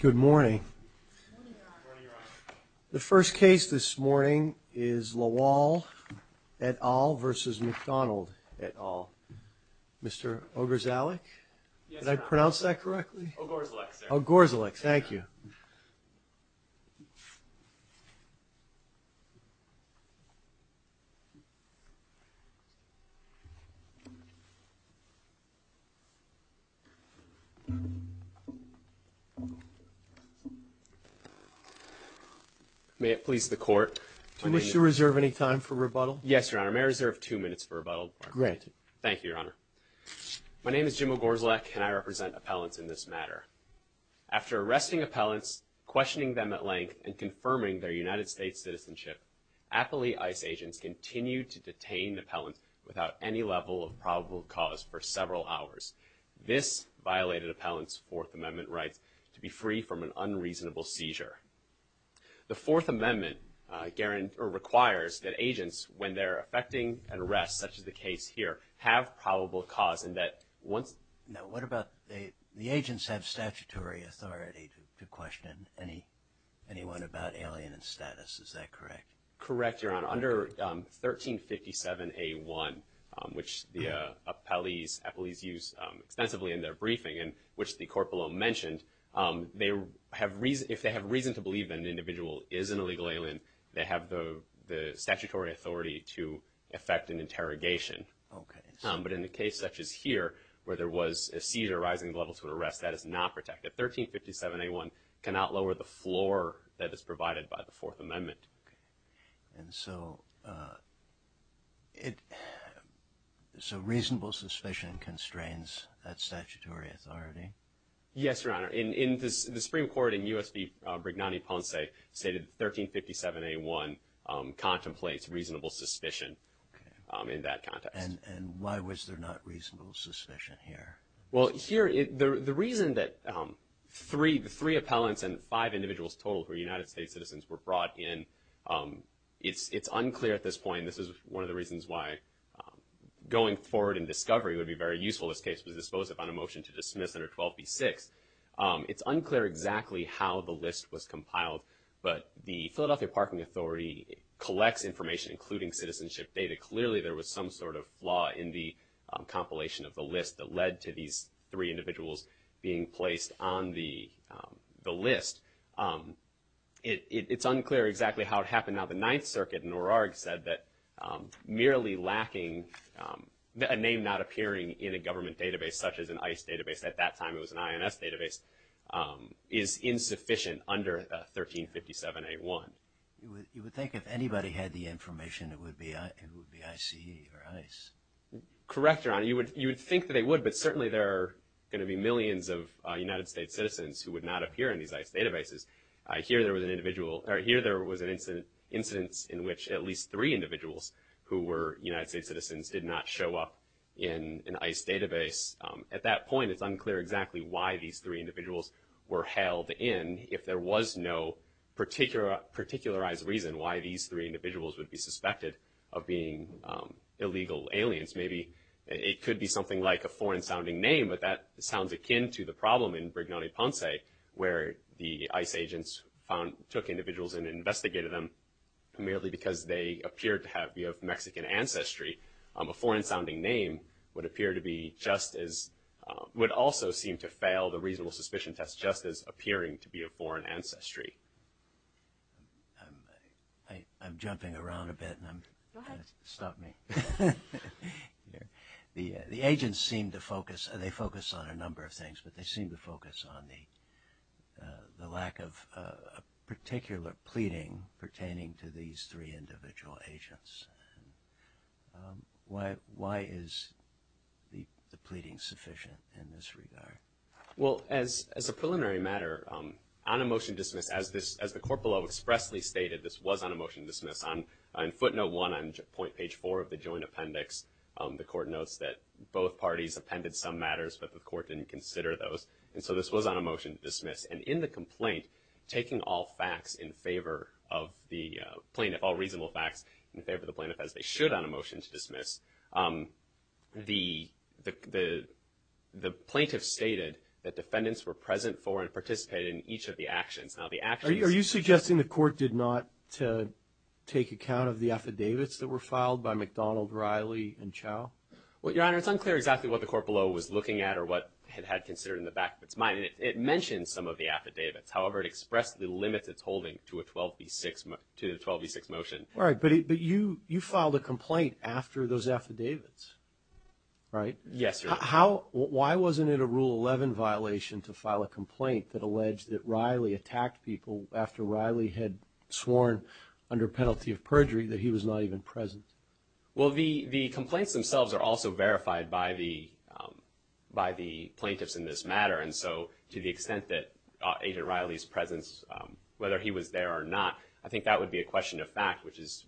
Good morning The first case this morning is lawal At all versus McDonald at all Mr. Ogres Alec, did I pronounce that correctly? Oh gores Alex. Thank you I May it please the court to Mr. Reserve any time for rebuttal? Yes, your honor may reserve two minutes for rebuttal. Great. Thank you, Your Honor My name is Jim Ogres Alec and I represent appellants in this matter After arresting appellants questioning them at length and confirming their United States citizenship Athlete ice agents continued to detain the pellets without any level of probable cause for several hours This violated appellants Fourth Amendment rights to be free from an unreasonable seizure the Fourth Amendment Guarantor requires that agents when they're affecting an arrest such as the case here have probable cause and that once know What about the the agents have statutory authority to question any? Anyone about alien and status. Is that correct? Correct, Your Honor under 1357 a1 which the Appellees appellees use extensively in their briefing and which the corporal mentioned They have reason if they have reason to believe that an individual is an illegal alien They have the the statutory authority to affect an interrogation Okay But in the case such as here where there was a seizure rising level to an arrest that is not protected 1357 a1 cannot lower the floor that is provided by the Fourth Amendment and so It So reasonable suspicion constrains that statutory authority Yes, Your Honor in in this the Supreme Court in USB Brignani Ponce a stated 1357 a1 contemplates reasonable suspicion In that context and and why was there not reasonable suspicion here? Well here it the reason that Three the three appellants and five individuals total for United States citizens were brought in It's it's unclear at this point. This is one of the reasons why Going forward in discovery would be very useful. This case was disposed of on a motion to dismiss under 12 b6 It's unclear exactly how the list was compiled But the Philadelphia Parking Authority collects information including citizenship data. Clearly there was some sort of flaw in the On the the list It's unclear exactly how it happened now the Ninth Circuit in O'Rourke said that merely lacking The name not appearing in a government database such as an ice database at that time. It was an INS database is insufficient under 1357 a1 You would think if anybody had the information it would be I see Correct your honor you would you would think that they would but certainly there are gonna be millions of United States citizens who would not Appear in these ice databases. I hear there was an individual right here There was an incident incidents in which at least three individuals who were United States citizens did not show up in an ice database At that point. It's unclear exactly why these three individuals were held in if there was no particular particularized reason why these three individuals would be suspected of being Illegal aliens, maybe it could be something like a foreign-sounding name But that sounds akin to the problem in Brignone Ponce where the ice agents found took individuals and investigated them primarily because they appeared to have you have Mexican ancestry a foreign-sounding name would appear to be just as Would also seem to fail the reasonable suspicion test just as appearing to be a foreign ancestry I I'm jumping around a bit and I'm stop me The the agents seem to focus and they focus on a number of things but they seem to focus on the the lack of a particular pleading pertaining to these three individual agents Why why is The the pleading sufficient in this regard Well as as a preliminary matter on a motion to dismiss as this as the court below expressly stated This was on a motion to dismiss on footnote one on point page four of the joint appendix The court notes that both parties appended some matters, but the court didn't consider those and so this was on a motion to dismiss and in the complaint taking all facts in favor of the Plaintiff all reasonable facts in favor of the plaintiff as they should on a motion to dismiss the the The plaintiff stated that defendants were present for and participated in each of the actions now the actually are you suggesting the court did not to Take account of the affidavits that were filed by McDonald Riley and chow. Well, your honor It's unclear exactly what the court below was looking at or what it had considered in the back of its mind It mentioned some of the affidavits. However, it expressly limits its holding to a 12b6 to the 12b6 motion All right, but it but you you filed a complaint after those affidavits Right. Yes How why wasn't it a rule 11 violation to file a complaint that alleged that Riley attacked people after Riley had? Sworn under penalty of perjury that he was not even present. Well, the the complaints themselves are also verified by the By the plaintiffs in this matter and so to the extent that agent Riley's presence whether he was there or not I think that would be a question of fact, which is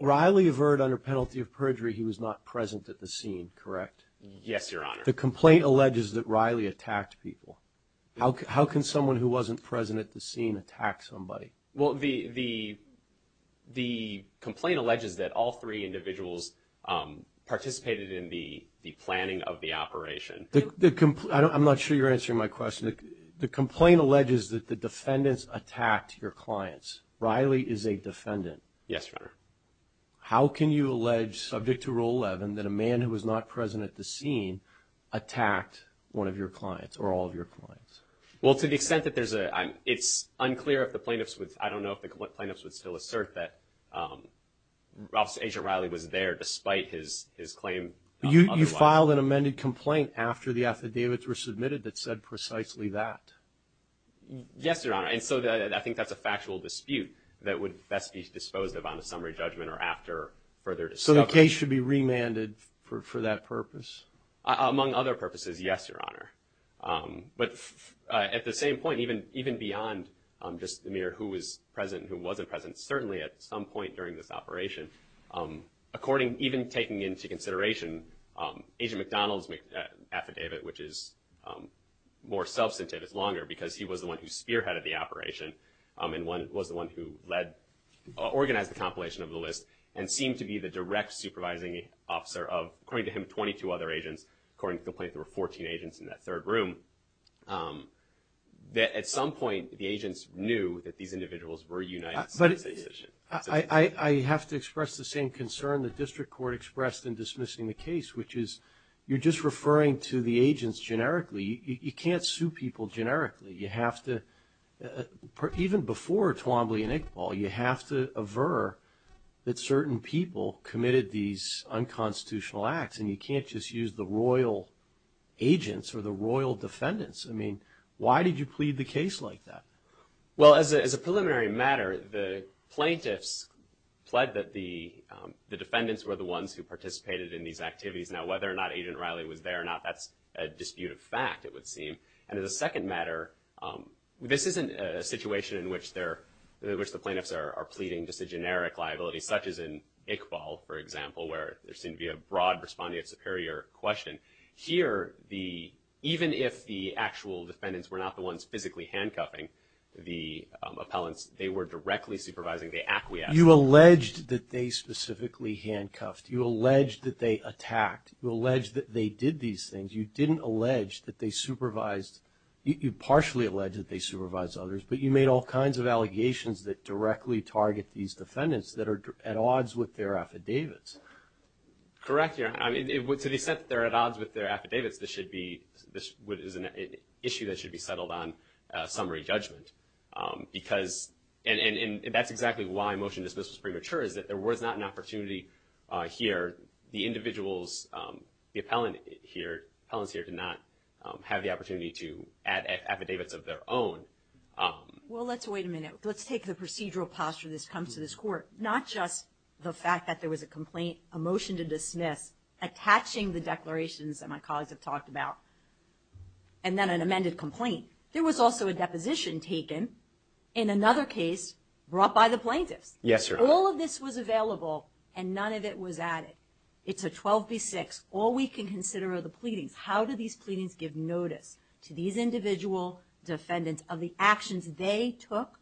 Riley avert under penalty of perjury. He was not present at the scene, correct? Yes, your honor the complaint alleges that Riley attacked people How can someone who wasn't present at the scene attack somebody? Well the the The complaint alleges that all three individuals Participated in the the planning of the operation the complaint I'm not sure you're answering my question the complaint alleges that the defendants attacked your clients Riley is a defendant Yes, sir How can you allege subject to rule 11 that a man who was not present at the scene? Attacked one of your clients or all of your clients well to the extent that there's a it's unclear if the plaintiffs with I don't know if the plaintiffs would still assert that Ralph's agent Riley was there despite his his claim you filed an amended complaint after the affidavits were submitted that said precisely that Yes, your honor and so that I think that's a factual dispute that would best be disposed of on a summary judgment or after Further so the case should be remanded for that purpose Among other purposes. Yes, your honor But at the same point even even beyond just the mere who was present who wasn't present certainly at some point during this operation According even taking into consideration Agent McDonald's affidavit, which is More substantive it's longer because he was the one who spearheaded the operation and one was the one who led Organized the compilation of the list and seemed to be the direct supervising officer of according to him 22 other agents According to the plate there were 14 agents in that third room That at some point the agents knew that these individuals were united But I I have to express the same concern the district court expressed in dismissing the case You're just referring to the agents generically you can't sue people generically you have to Even before Twombly and Iqbal you have to aver that certain people committed these Unconstitutional acts and you can't just use the royal Agents or the royal defendants. I mean, why did you plead the case like that? well as a preliminary matter the plaintiffs pled that the Defendants were the ones who participated in these activities now whether or not agent Riley was there or not That's a disputed fact it would seem and as a second matter This isn't a situation in which there which the plaintiffs are pleading just a generic liability such as in Iqbal For example where there seemed to be a broad responding a superior question here the even if the actual defendants were not the ones physically handcuffing the Appellants they were directly supervising the acquiesce you alleged that they specifically handcuffed you alleged that they attacked You alleged that they did these things you didn't allege that they supervised You partially alleged that they supervised others But you made all kinds of allegations that directly target these defendants that are at odds with their affidavits Correct. Yeah, I mean it would to the set that they're at odds with their affidavits This should be this would is an issue that should be settled on summary judgment Because and and and that's exactly why motion dismisses premature is that there was not an opportunity here the individuals The appellant here appellants here did not have the opportunity to add affidavits of their own Well, let's wait a minute. Let's take the procedural posture This comes to this court not just the fact that there was a complaint a motion to dismiss attaching the declarations that my colleagues have talked about and Was also a deposition taken in another case brought by the plaintiffs Yes, all of this was available and none of it was added. It's a 12b6 all we can consider are the pleadings How do these pleadings give notice to these individual defendants of the actions they took?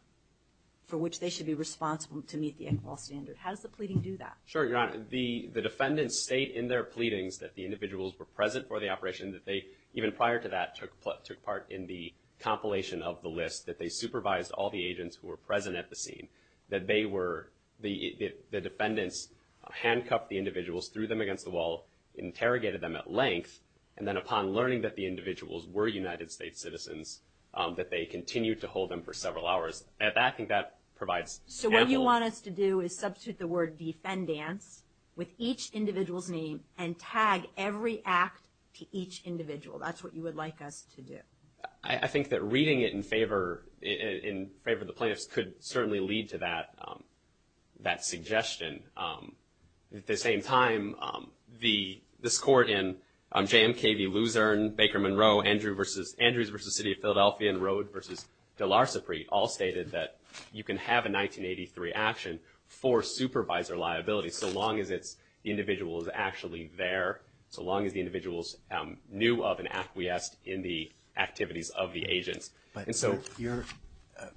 For which they should be responsible to meet the equal standard. How does the pleading do that? Sure Your honor the the defendants state in their pleadings that the individuals were present for the operation that they even prior to that took took part In the compilation of the list that they supervised all the agents who were present at the scene that they were the the defendants Handcuffed the individuals threw them against the wall Interrogated them at length and then upon learning that the individuals were United States citizens That they continued to hold them for several hours at that thing that provides So what you want us to do is substitute the word defendants with each individual's name and tag every act Each individual that's what you would like us to do I think that reading it in favor in favor of the plaintiffs could certainly lead to that that suggestion at the same time the this court in jmkv Luzerne Baker Monroe Andrew versus Andrews versus City of Philadelphia and road versus Delarsipree all stated that you can have a 1983 action for supervisor liability so long as it's the individual is actually there so long as the individuals knew of an acquiesced in the Activities of the agents, but it's so you're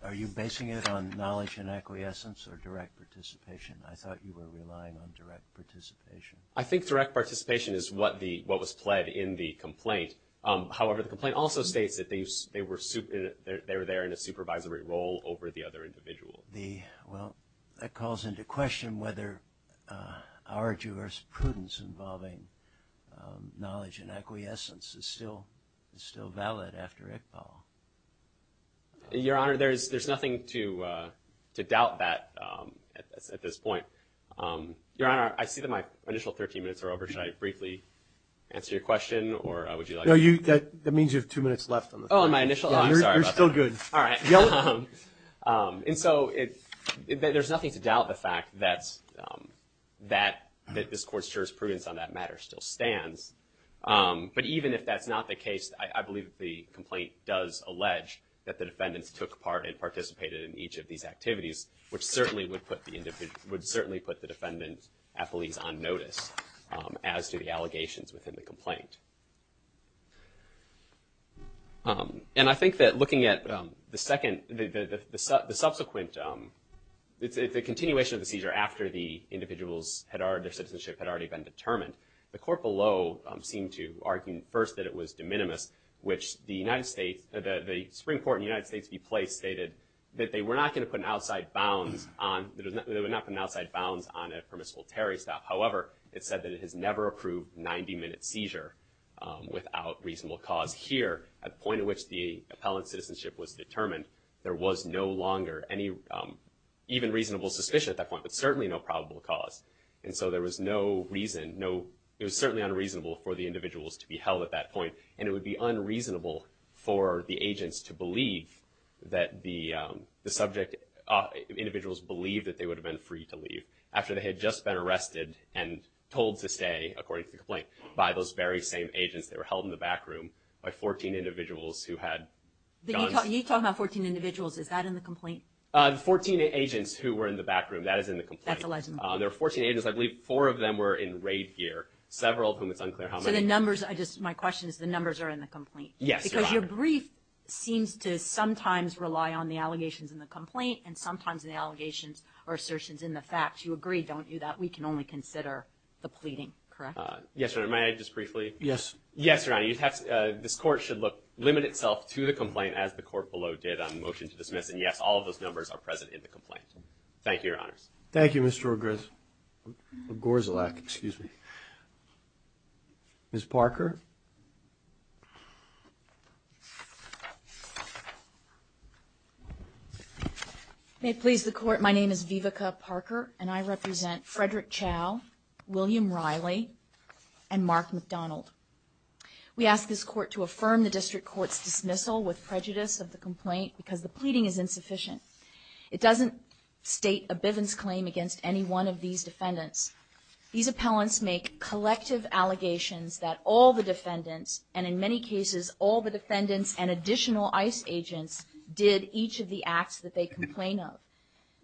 are you basing it on knowledge and acquiescence or direct participation? I thought you were relying on direct participation. I think direct participation is what the what was pled in the complaint however, the complaint also states that they were super they were there in a supervisory role over the other individual the well that calls into question whether our jurisprudence involving Knowledge and acquiescence is still it's still valid after Iqbal Your honor there's there's nothing to to doubt that at this point Your honor I see that my initial 13 minutes are over should I briefly? Answer your question or I would you know you that that means you have two minutes left on the phone my initial I'm still good all right and so it There's nothing to doubt the fact that's That that this court's jurisprudence on that matter still stands But even if that's not the case I believe the complaint does allege that the defendants took part and participated in each of these activities Which certainly would put the end of it would certainly put the defendant at police on notice as to the allegations within the complaint And I think that looking at the second the Subsequent It's a continuation of the seizure after the individuals had our their citizenship had already been determined the court below Seemed to argue first that it was de minimis Which the United States that the Supreme Court in the United States be placed stated that they were not going to put an outside bounds On there was nothing outside bounds on a permissible Terry stuff however. It said that it has never approved 90-minute seizure Without reasonable cause here at the point in which the appellant citizenship was determined there was no longer any Even reasonable suspicion at that point, but certainly no probable cause and so there was no reason no It was certainly unreasonable for the individuals to be held at that point and it would be unreasonable for the agents to believe that the subject individuals believed that they would have been free to leave after they had just been arrested and Those very same agents. They were held in the back room by 14 individuals who had You talk about 14 individuals is that in the complaint? 14 agents who were in the back room that is in the complaint There are 14 agents. I believe four of them were in raid gear several of whom it's unclear How many numbers I just my question is the numbers are in the complaint? Yes because your brief Seems to sometimes rely on the allegations in the complaint and sometimes the allegations or assertions in the facts you agree Don't you that we can only consider the pleading correct? Yes, or am I just briefly? Yes. Yes, your honor You'd have this court should look limit itself to the complaint as the court below did on motion to dismiss And yes, all of those numbers are present in the complaint. Thank you. Your honors. Thank you. Mr. Ogress Gorzalek, excuse me Miss Parker May it please the court. My name is Vivica Parker and I represent Frederick Chao William Riley and Mark McDonald We ask this court to affirm the district courts dismissal with prejudice of the complaint because the pleading is insufficient It doesn't state a Bivens claim against any one of these defendants These appellants make collective allegations that all the defendants and in many cases all the defendants and additional ICE Agents did each of the acts that they complain of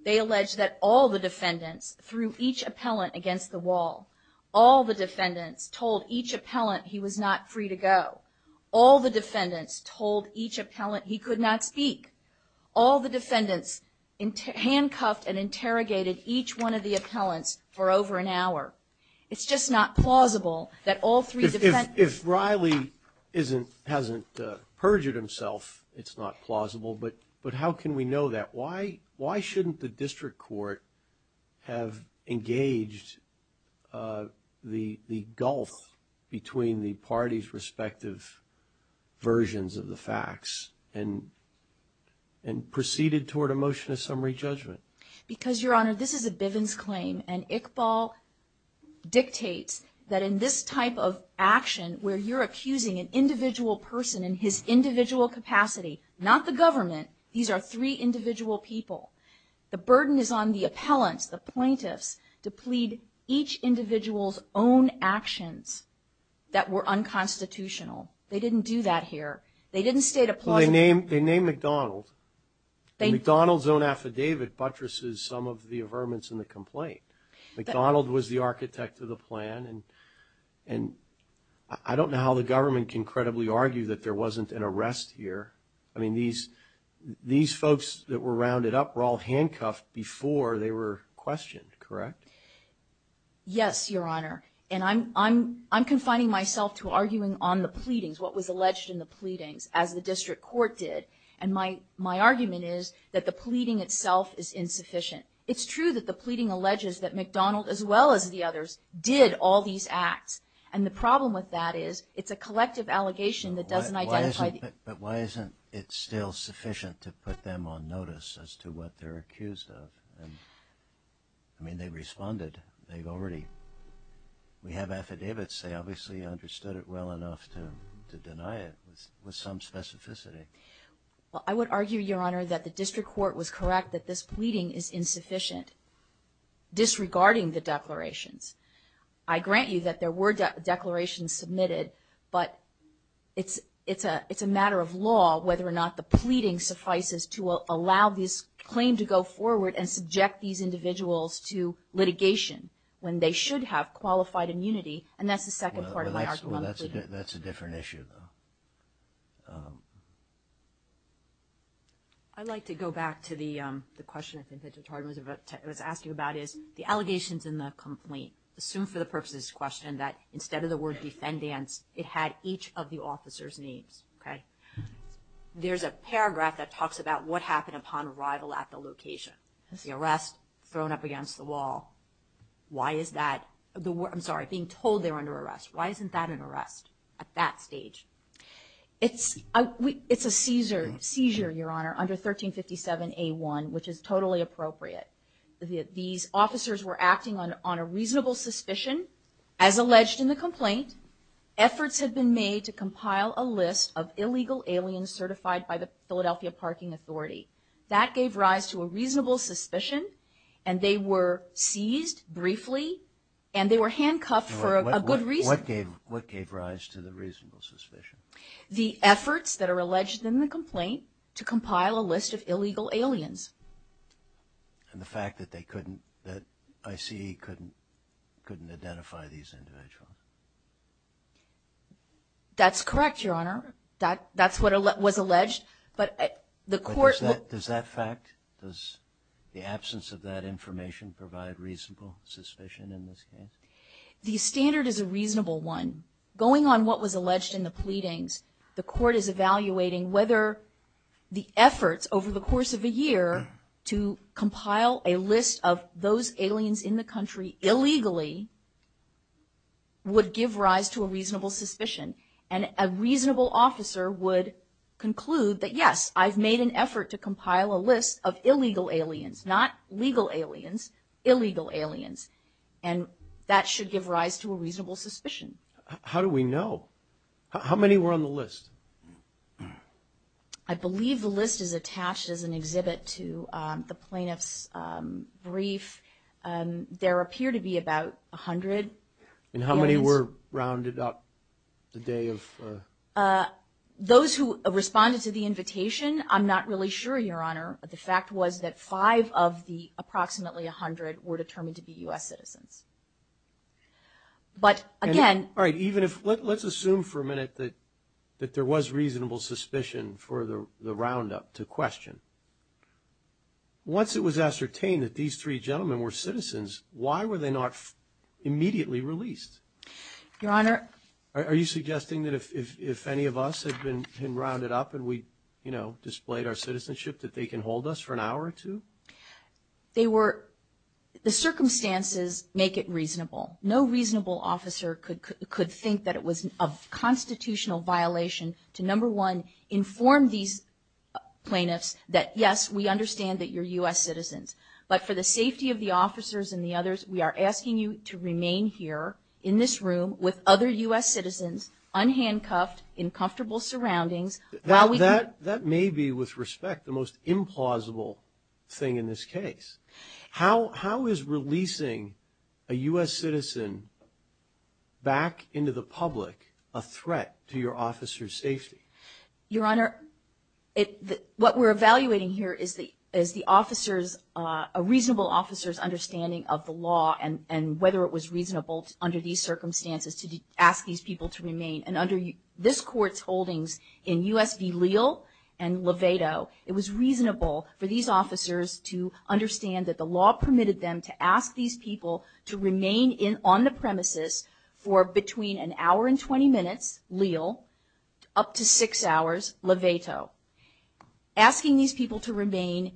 they allege that all the defendants through each appellant against the wall All the defendants told each appellant. He was not free to go all the defendants told each appellant He could not speak all the defendants in Handcuffed and interrogated each one of the appellants for over an hour It's just not plausible that all three defendants Riley isn't hasn't perjured himself It's not plausible. But but how can we know that? Why why shouldn't the district court? have engaged The the gulf between the parties respective versions of the facts and and Proceeded toward a motion of summary judgment because your honor. This is a Bivens claim and Iqbal Dictates that in this type of action where you're accusing an individual person in his individual capacity Not the government. These are three individual people The burden is on the appellants the plaintiffs to plead each individual's own actions That were unconstitutional. They didn't do that here. They didn't state a ploy name. They named McDonald They McDonald's own affidavit buttresses some of the averments in the complaint McDonald was the architect of the plan and and I don't know how the government can credibly argue that there wasn't an arrest here. I mean these These folks that were rounded up were all handcuffed before they were questioned, correct Yes, your honor And I'm I'm I'm confining myself to arguing on the pleadings what was alleged in the pleadings as the district court did and my my Argument is that the pleading itself is insufficient It's true that the pleading alleges that McDonald as well as the others Did all these acts and the problem with that is it's a collective allegation that doesn't identify But why isn't it still sufficient to put them on notice as to what they're accused of and I Mean they responded they've already We have affidavits. They obviously understood it well enough to deny it with some specificity Well, I would argue your honor that the district court was correct that this pleading is insufficient Disregarding the declarations. I grant you that there were declarations submitted but It's it's a it's a matter of law whether or not the pleading suffices to allow this claim to go forward and subject these individuals to Litigation when they should have qualified immunity and that's the second part. Well, that's that's a different issue though. I Like to go back to the the question I think that it was asking about is the allegations in the complaint Assume for the purposes question that instead of the word defendants it had each of the officers names, okay There's a paragraph that talks about what happened upon arrival at the location the arrest thrown up against the wall Why is that the word? I'm sorry being told they're under arrest. Why isn't that an arrest at that stage? It's a it's a Caesar seizure your honor under 1357 a1, which is totally appropriate These officers were acting on on a reasonable suspicion as alleged in the complaint Efforts had been made to compile a list of illegal aliens certified by the Philadelphia Parking Authority That gave rise to a reasonable suspicion and they were seized Briefly and they were handcuffed for a good reason What gave what gave rise to the reasonable suspicion the efforts that are alleged in the complaint to compile a list of illegal aliens? And the fact that they couldn't that I see couldn't couldn't identify these individuals That's correct your honor that that's what it was alleged But the court does that fact does the absence of that information provide reasonable suspicion in this case? The standard is a reasonable one going on what was alleged in the pleadings. The court is evaluating whether The efforts over the course of a year to compile a list of those aliens in the country illegally Would give rise to a reasonable suspicion and a reasonable officer would Conclude that yes, I've made an effort to compile a list of illegal aliens not legal aliens illegal aliens and That should give rise to a reasonable suspicion. How do we know? How many were on the list? I Believe the list is attached as an exhibit to the plaintiffs brief There appear to be about a hundred and how many were rounded up the day of? Those who responded to the invitation I'm not really sure your honor the fact was that five of the approximately a hundred were determined to be US citizens But again, all right, even if let's assume for a minute that that there was reasonable suspicion for the the roundup to question Once it was ascertained that these three gentlemen were citizens. Why were they not? immediately released Your honor. Are you suggesting that if any of us had been rounded up and we you know Displayed our citizenship that they can hold us for an hour or two they were The circumstances make it reasonable no reasonable officer could could think that it was a constitutional violation to number one inform these Plaintiffs that yes, we understand that your u.s. Citizens, but for the safety of the officers and the others We are asking you to remain here in this room with other u.s. Citizens Unhandcuffed in comfortable surroundings while we that that may be with respect the most implausible Thing in this case, how how is releasing a u.s. Citizen? Back into the public a threat to your officers safety your honor It what we're evaluating here is the as the officers a reasonable officers understanding of the law and and whether it was reasonable under these circumstances to ask these people to remain and under you this court's holdings in U.s.v. Leal and Levato it was reasonable for these officers to understand that the law permitted them to ask these people to remain in on the premises for between an hour and 20 minutes leal up to six hours levato Asking these people to remain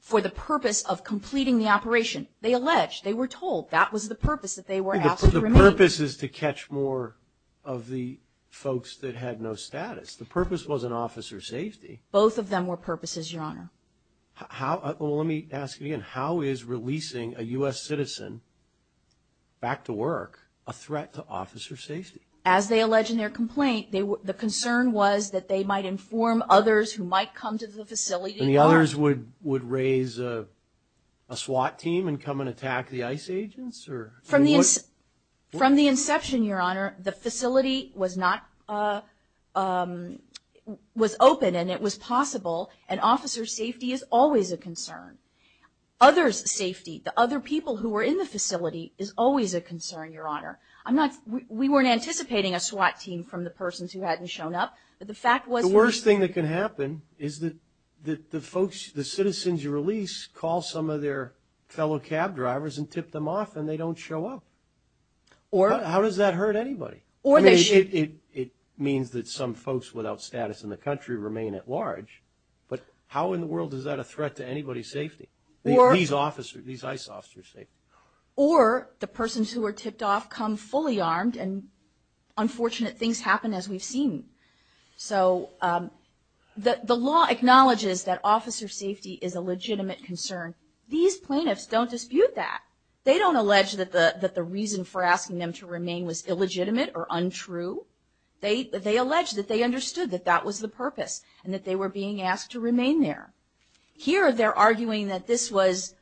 For the purpose of completing the operation they allege they were told that was the purpose that they were Purposes to catch more of the folks that had no status the purpose was an officer safety Both of them were purposes your honor How let me ask you and how is releasing a u.s. Citizen? Back to work a threat to officer safety as they allege in their complaint they were the concern was that they might inform others who might come to the facility and the others would would raise a SWAT team and come and attack the ice agents or from this from the inception your honor the facility was not Was open and it was possible and officer safety is always a concern Others safety the other people who were in the facility is always a concern your honor I'm not we weren't anticipating a SWAT team from the persons who hadn't shown up But the fact was the worst thing that can happen is that the folks the citizens you release call some of their Fellow cab drivers and tip them off and they don't show up Or how does that hurt anybody or they should it? It means that some folks without status in the country remain at large But how in the world is that a threat to anybody's safety or these officers these ice officers say? or the persons who are tipped off come fully armed and Unfortunate things happen as we've seen so That the law acknowledges that officer safety is a legitimate concern these plaintiffs don't dispute that They don't allege that the that the reason for asking them to remain was illegitimate or untrue They they allege that they understood that that was the purpose and that they were being asked to remain there Here they're arguing that this was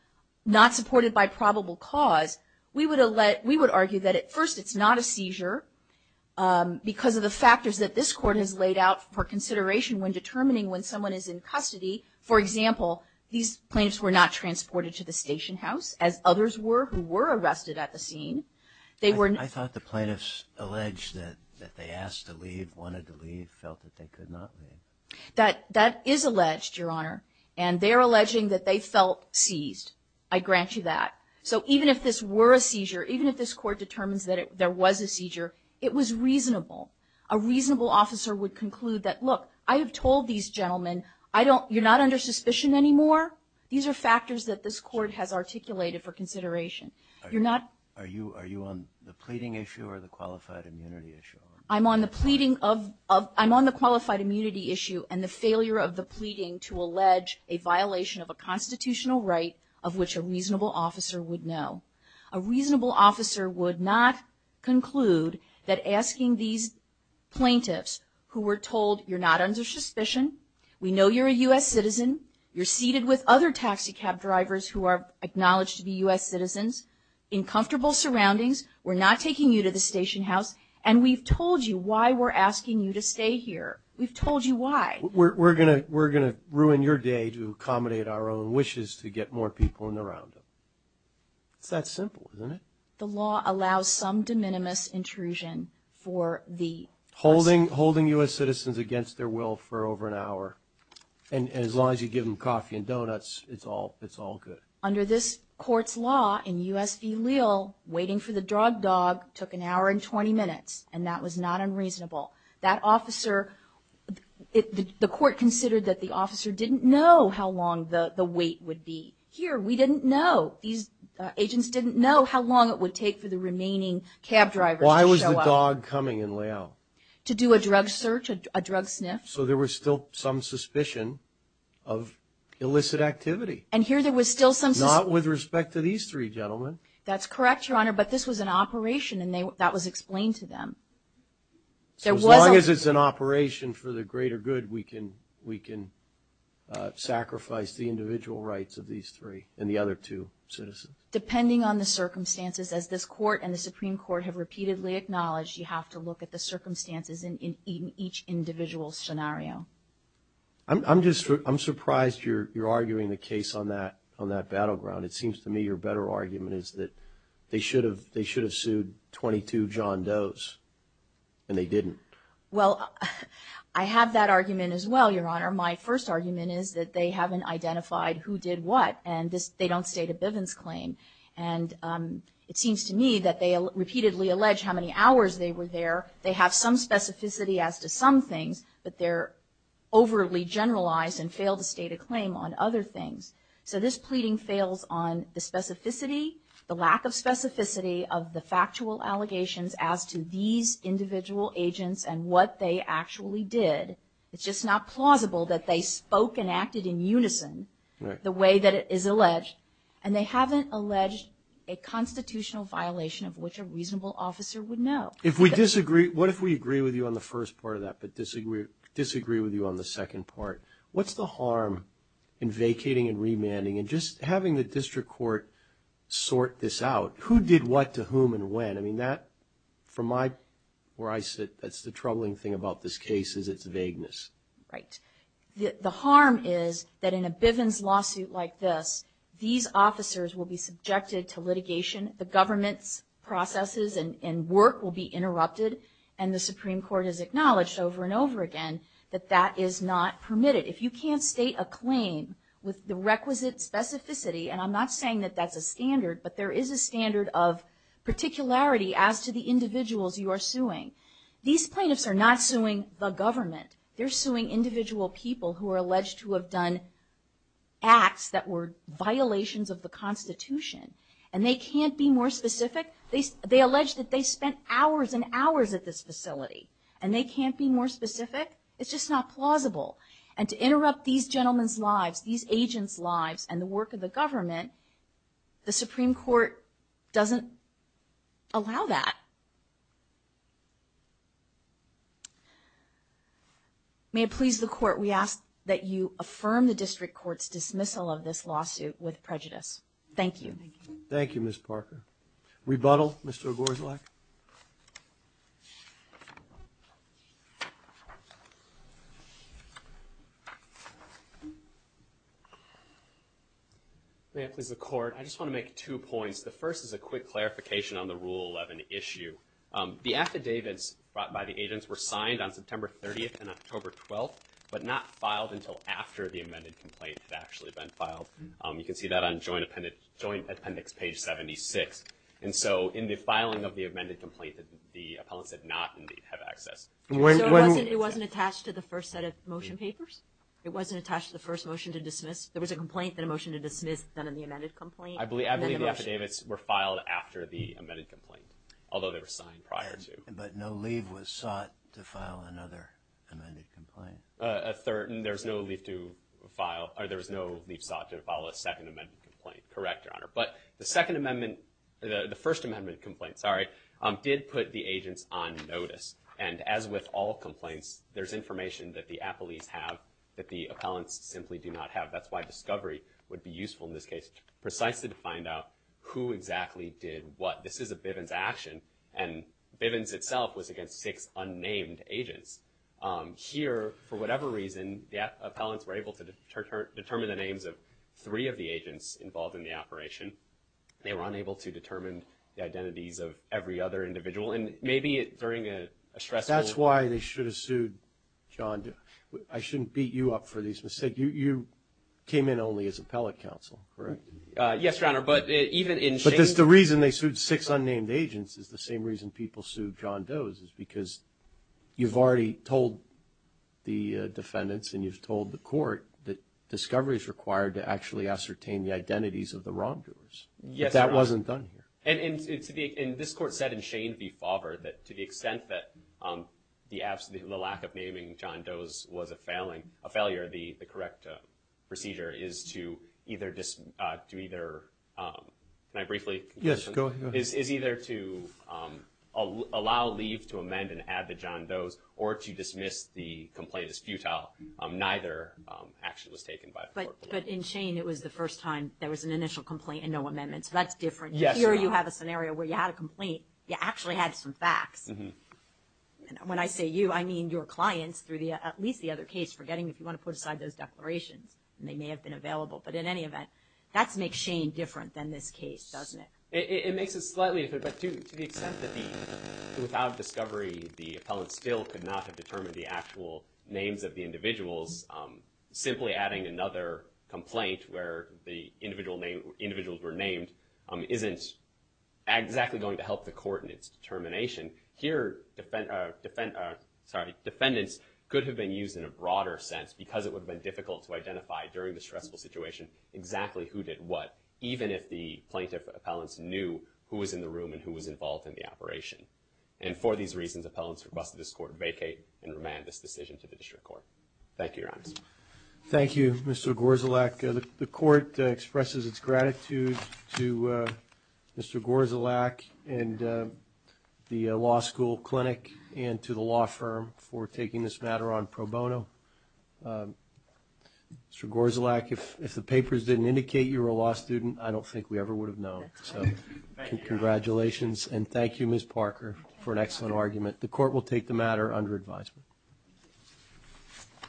not supported by probable cause we would have let we would argue that at first. It's not a seizure Because of the factors that this court has laid out for consideration when determining when someone is in custody For example, these plaintiffs were not transported to the station house as others were who were arrested at the scene They were I thought the plaintiffs alleged that that they asked to leave wanted to leave felt that they could not That that is alleged your honor and they are alleging that they felt seized I grant you that so even if this were a seizure Even if this court determines that there was a seizure It was reasonable a reasonable officer would conclude that look I have told these gentlemen I don't you're not under suspicion anymore. These are factors that this court has articulated for consideration You're not are you are you on the pleading issue or the qualified immunity issue? I'm on the pleading of I'm on the qualified immunity issue and the failure of the pleading to allege a violation of a Constitutional right of which a reasonable officer would know a reasonable officer would not conclude that asking these Plaintiffs who were told you're not under suspicion. We know you're a u.s Citizen you're seated with other taxicab drivers who are acknowledged to be u.s. Citizens in comfortable surroundings We're not taking you to the station house, and we've told you why we're asking you to stay here We've told you why we're gonna we're gonna ruin your day to accommodate our own wishes to get more people in the round It's that simple isn't it the law allows some de minimis intrusion for the holding holding u.s Citizens against their will for over an hour and as long as you give them coffee and doughnuts It's all it's all good under this court's law in US v Waiting for the drug dog took an hour and 20 minutes, and that was not unreasonable that officer The court considered that the officer didn't know how long the the wait would be here We didn't know these agents didn't know how long it would take for the remaining cab driver Why was the dog coming in layout to do a drug search a drug sniff so there was still some suspicion of Illicit activity and here there was still some not with respect to these three gentlemen, that's correct your honor But this was an operation and they that was explained to them There was long as it's an operation for the greater. Good. We can we can Sacrifice the individual rights of these three and the other two Citizens depending on the circumstances as this court and the Supreme Court have repeatedly acknowledged you have to look at the circumstances in each individual scenario I'm just I'm surprised you're you're arguing the case on that on that battleground It seems to me your better argument is that they should have they should have sued 22 John Doe's And they didn't well, I have that argument as well. Your honor my first argument is that they haven't identified who did what and this they don't state a Bivens claim and It seems to me that they repeatedly allege how many hours they were there They have some specificity as to some things, but they're Overly generalized and fail to state a claim on other things So this pleading fails on the specificity the lack of specificity of the factual allegations as to these Individual agents and what they actually did it's just not plausible that they spoke and acted in unison the way that it is alleged and they haven't alleged a What if we agree with you on the first part of that but disagree disagree with you on the second part What's the harm in vacating and remanding and just having the district court? Sort this out who did what to whom and when I mean that from my where I sit That's the troubling thing about this case is its vagueness, right? The harm is that in a Bivens lawsuit like this these officers will be subjected to litigation the government's Work will be interrupted and the Supreme Court is acknowledged over and over again that that is not permitted if you can't state a claim With the requisite specificity, and I'm not saying that that's a standard, but there is a standard of Particularity as to the individuals you are suing these plaintiffs are not suing the government They're suing individual people who are alleged to have done Acts that were violations of the Constitution and they can't be more specific They they allege that they spent hours and hours at this facility and they can't be more specific It's just not plausible and to interrupt these gentleman's lives these agents lives and the work of the government the Supreme Court doesn't allow that May it please the court we ask that you affirm the district courts dismissal of this lawsuit with prejudice. Thank you Thank You miss Parker rebuttal mr. Gore's like May it please the court I just want to make two points the first is a quick clarification on the rule of an issue The affidavits brought by the agents were signed on September 30th and October 12th But not filed until after the amended complaint had actually been filed You can see that on joint appendix joint appendix page 76 And so in the filing of the amended complaint that the appellants did not have access It wasn't attached to the first set of motion papers. It wasn't attached to the first motion to dismiss There was a complaint that a motion to dismiss then in the amended complaint I believe I believe the affidavits were filed after the amended complaint Although they were signed prior to but no leave was sought to file another A third and there's no leave to file or there was no leave sought to follow a second amendment complaint, correct? Your honor, but the Second Amendment the the First Amendment complaint Sorry did put the agents on notice and as with all complaints There's information that the appellees have that the appellants simply do not have that's why discovery would be useful in this case Precisely to find out who exactly did what this is a Bivens action and Bivens itself was against six unnamed agents here for whatever reason the Appellants were able to determine the names of three of the agents involved in the operation They were unable to determine the identities of every other individual and maybe it during a stress. That's why they should have sued John do I shouldn't beat you up for these mistake you you came in only as appellate counsel, correct? Yes, your honor but even in but that's the reason they sued six unnamed agents is the same reason people sue John does is because You've already told The defendants and you've told the court that discovery is required to actually ascertain the identities of the wrongdoers Yes that wasn't done here and it's to be in this court said in shame be fathered that to the extent that The absolute lack of naming John does was a failing a failure the the correct Procedure is to either just do either My briefly. Yes, go is is either to Allow leave to amend and add the John does or to dismiss the complaint is futile. Neither Action was taken by but but in Shane it was the first time there was an initial complaint and no amendments That's different. Yes here. You have a scenario where you had a complaint. You actually had some facts When I say you I mean your clients through the at least the other case for getting if you want to put aside those Declarations and they may have been available. But in any event that's make Shane different than this case, doesn't it? It makes it slightly Without discovery the appellant still could not have determined the actual names of the individuals simply adding another complaint where the individual name individuals were named isn't Exactly going to help the court in its determination here Defendant sorry defendants could have been used in a broader sense because it would have been difficult to identify during the stressful situation Exactly who did what even if the plaintiff appellants knew who was in the room and who was involved in the operation and For these reasons appellants for busted this court vacate and remand this decision to the district court. Thank you. Your eyes Thank you. Mr. Gorzelak. The court expresses its gratitude to Mr. Gorzelak and The law school clinic and to the law firm for taking this matter on pro bono Mr. Gorzelak if if the papers didn't indicate you were a law student, I don't think we ever would have known so Congratulations, and thank you. Ms. Parker for an excellent argument. The court will take the matter under advisement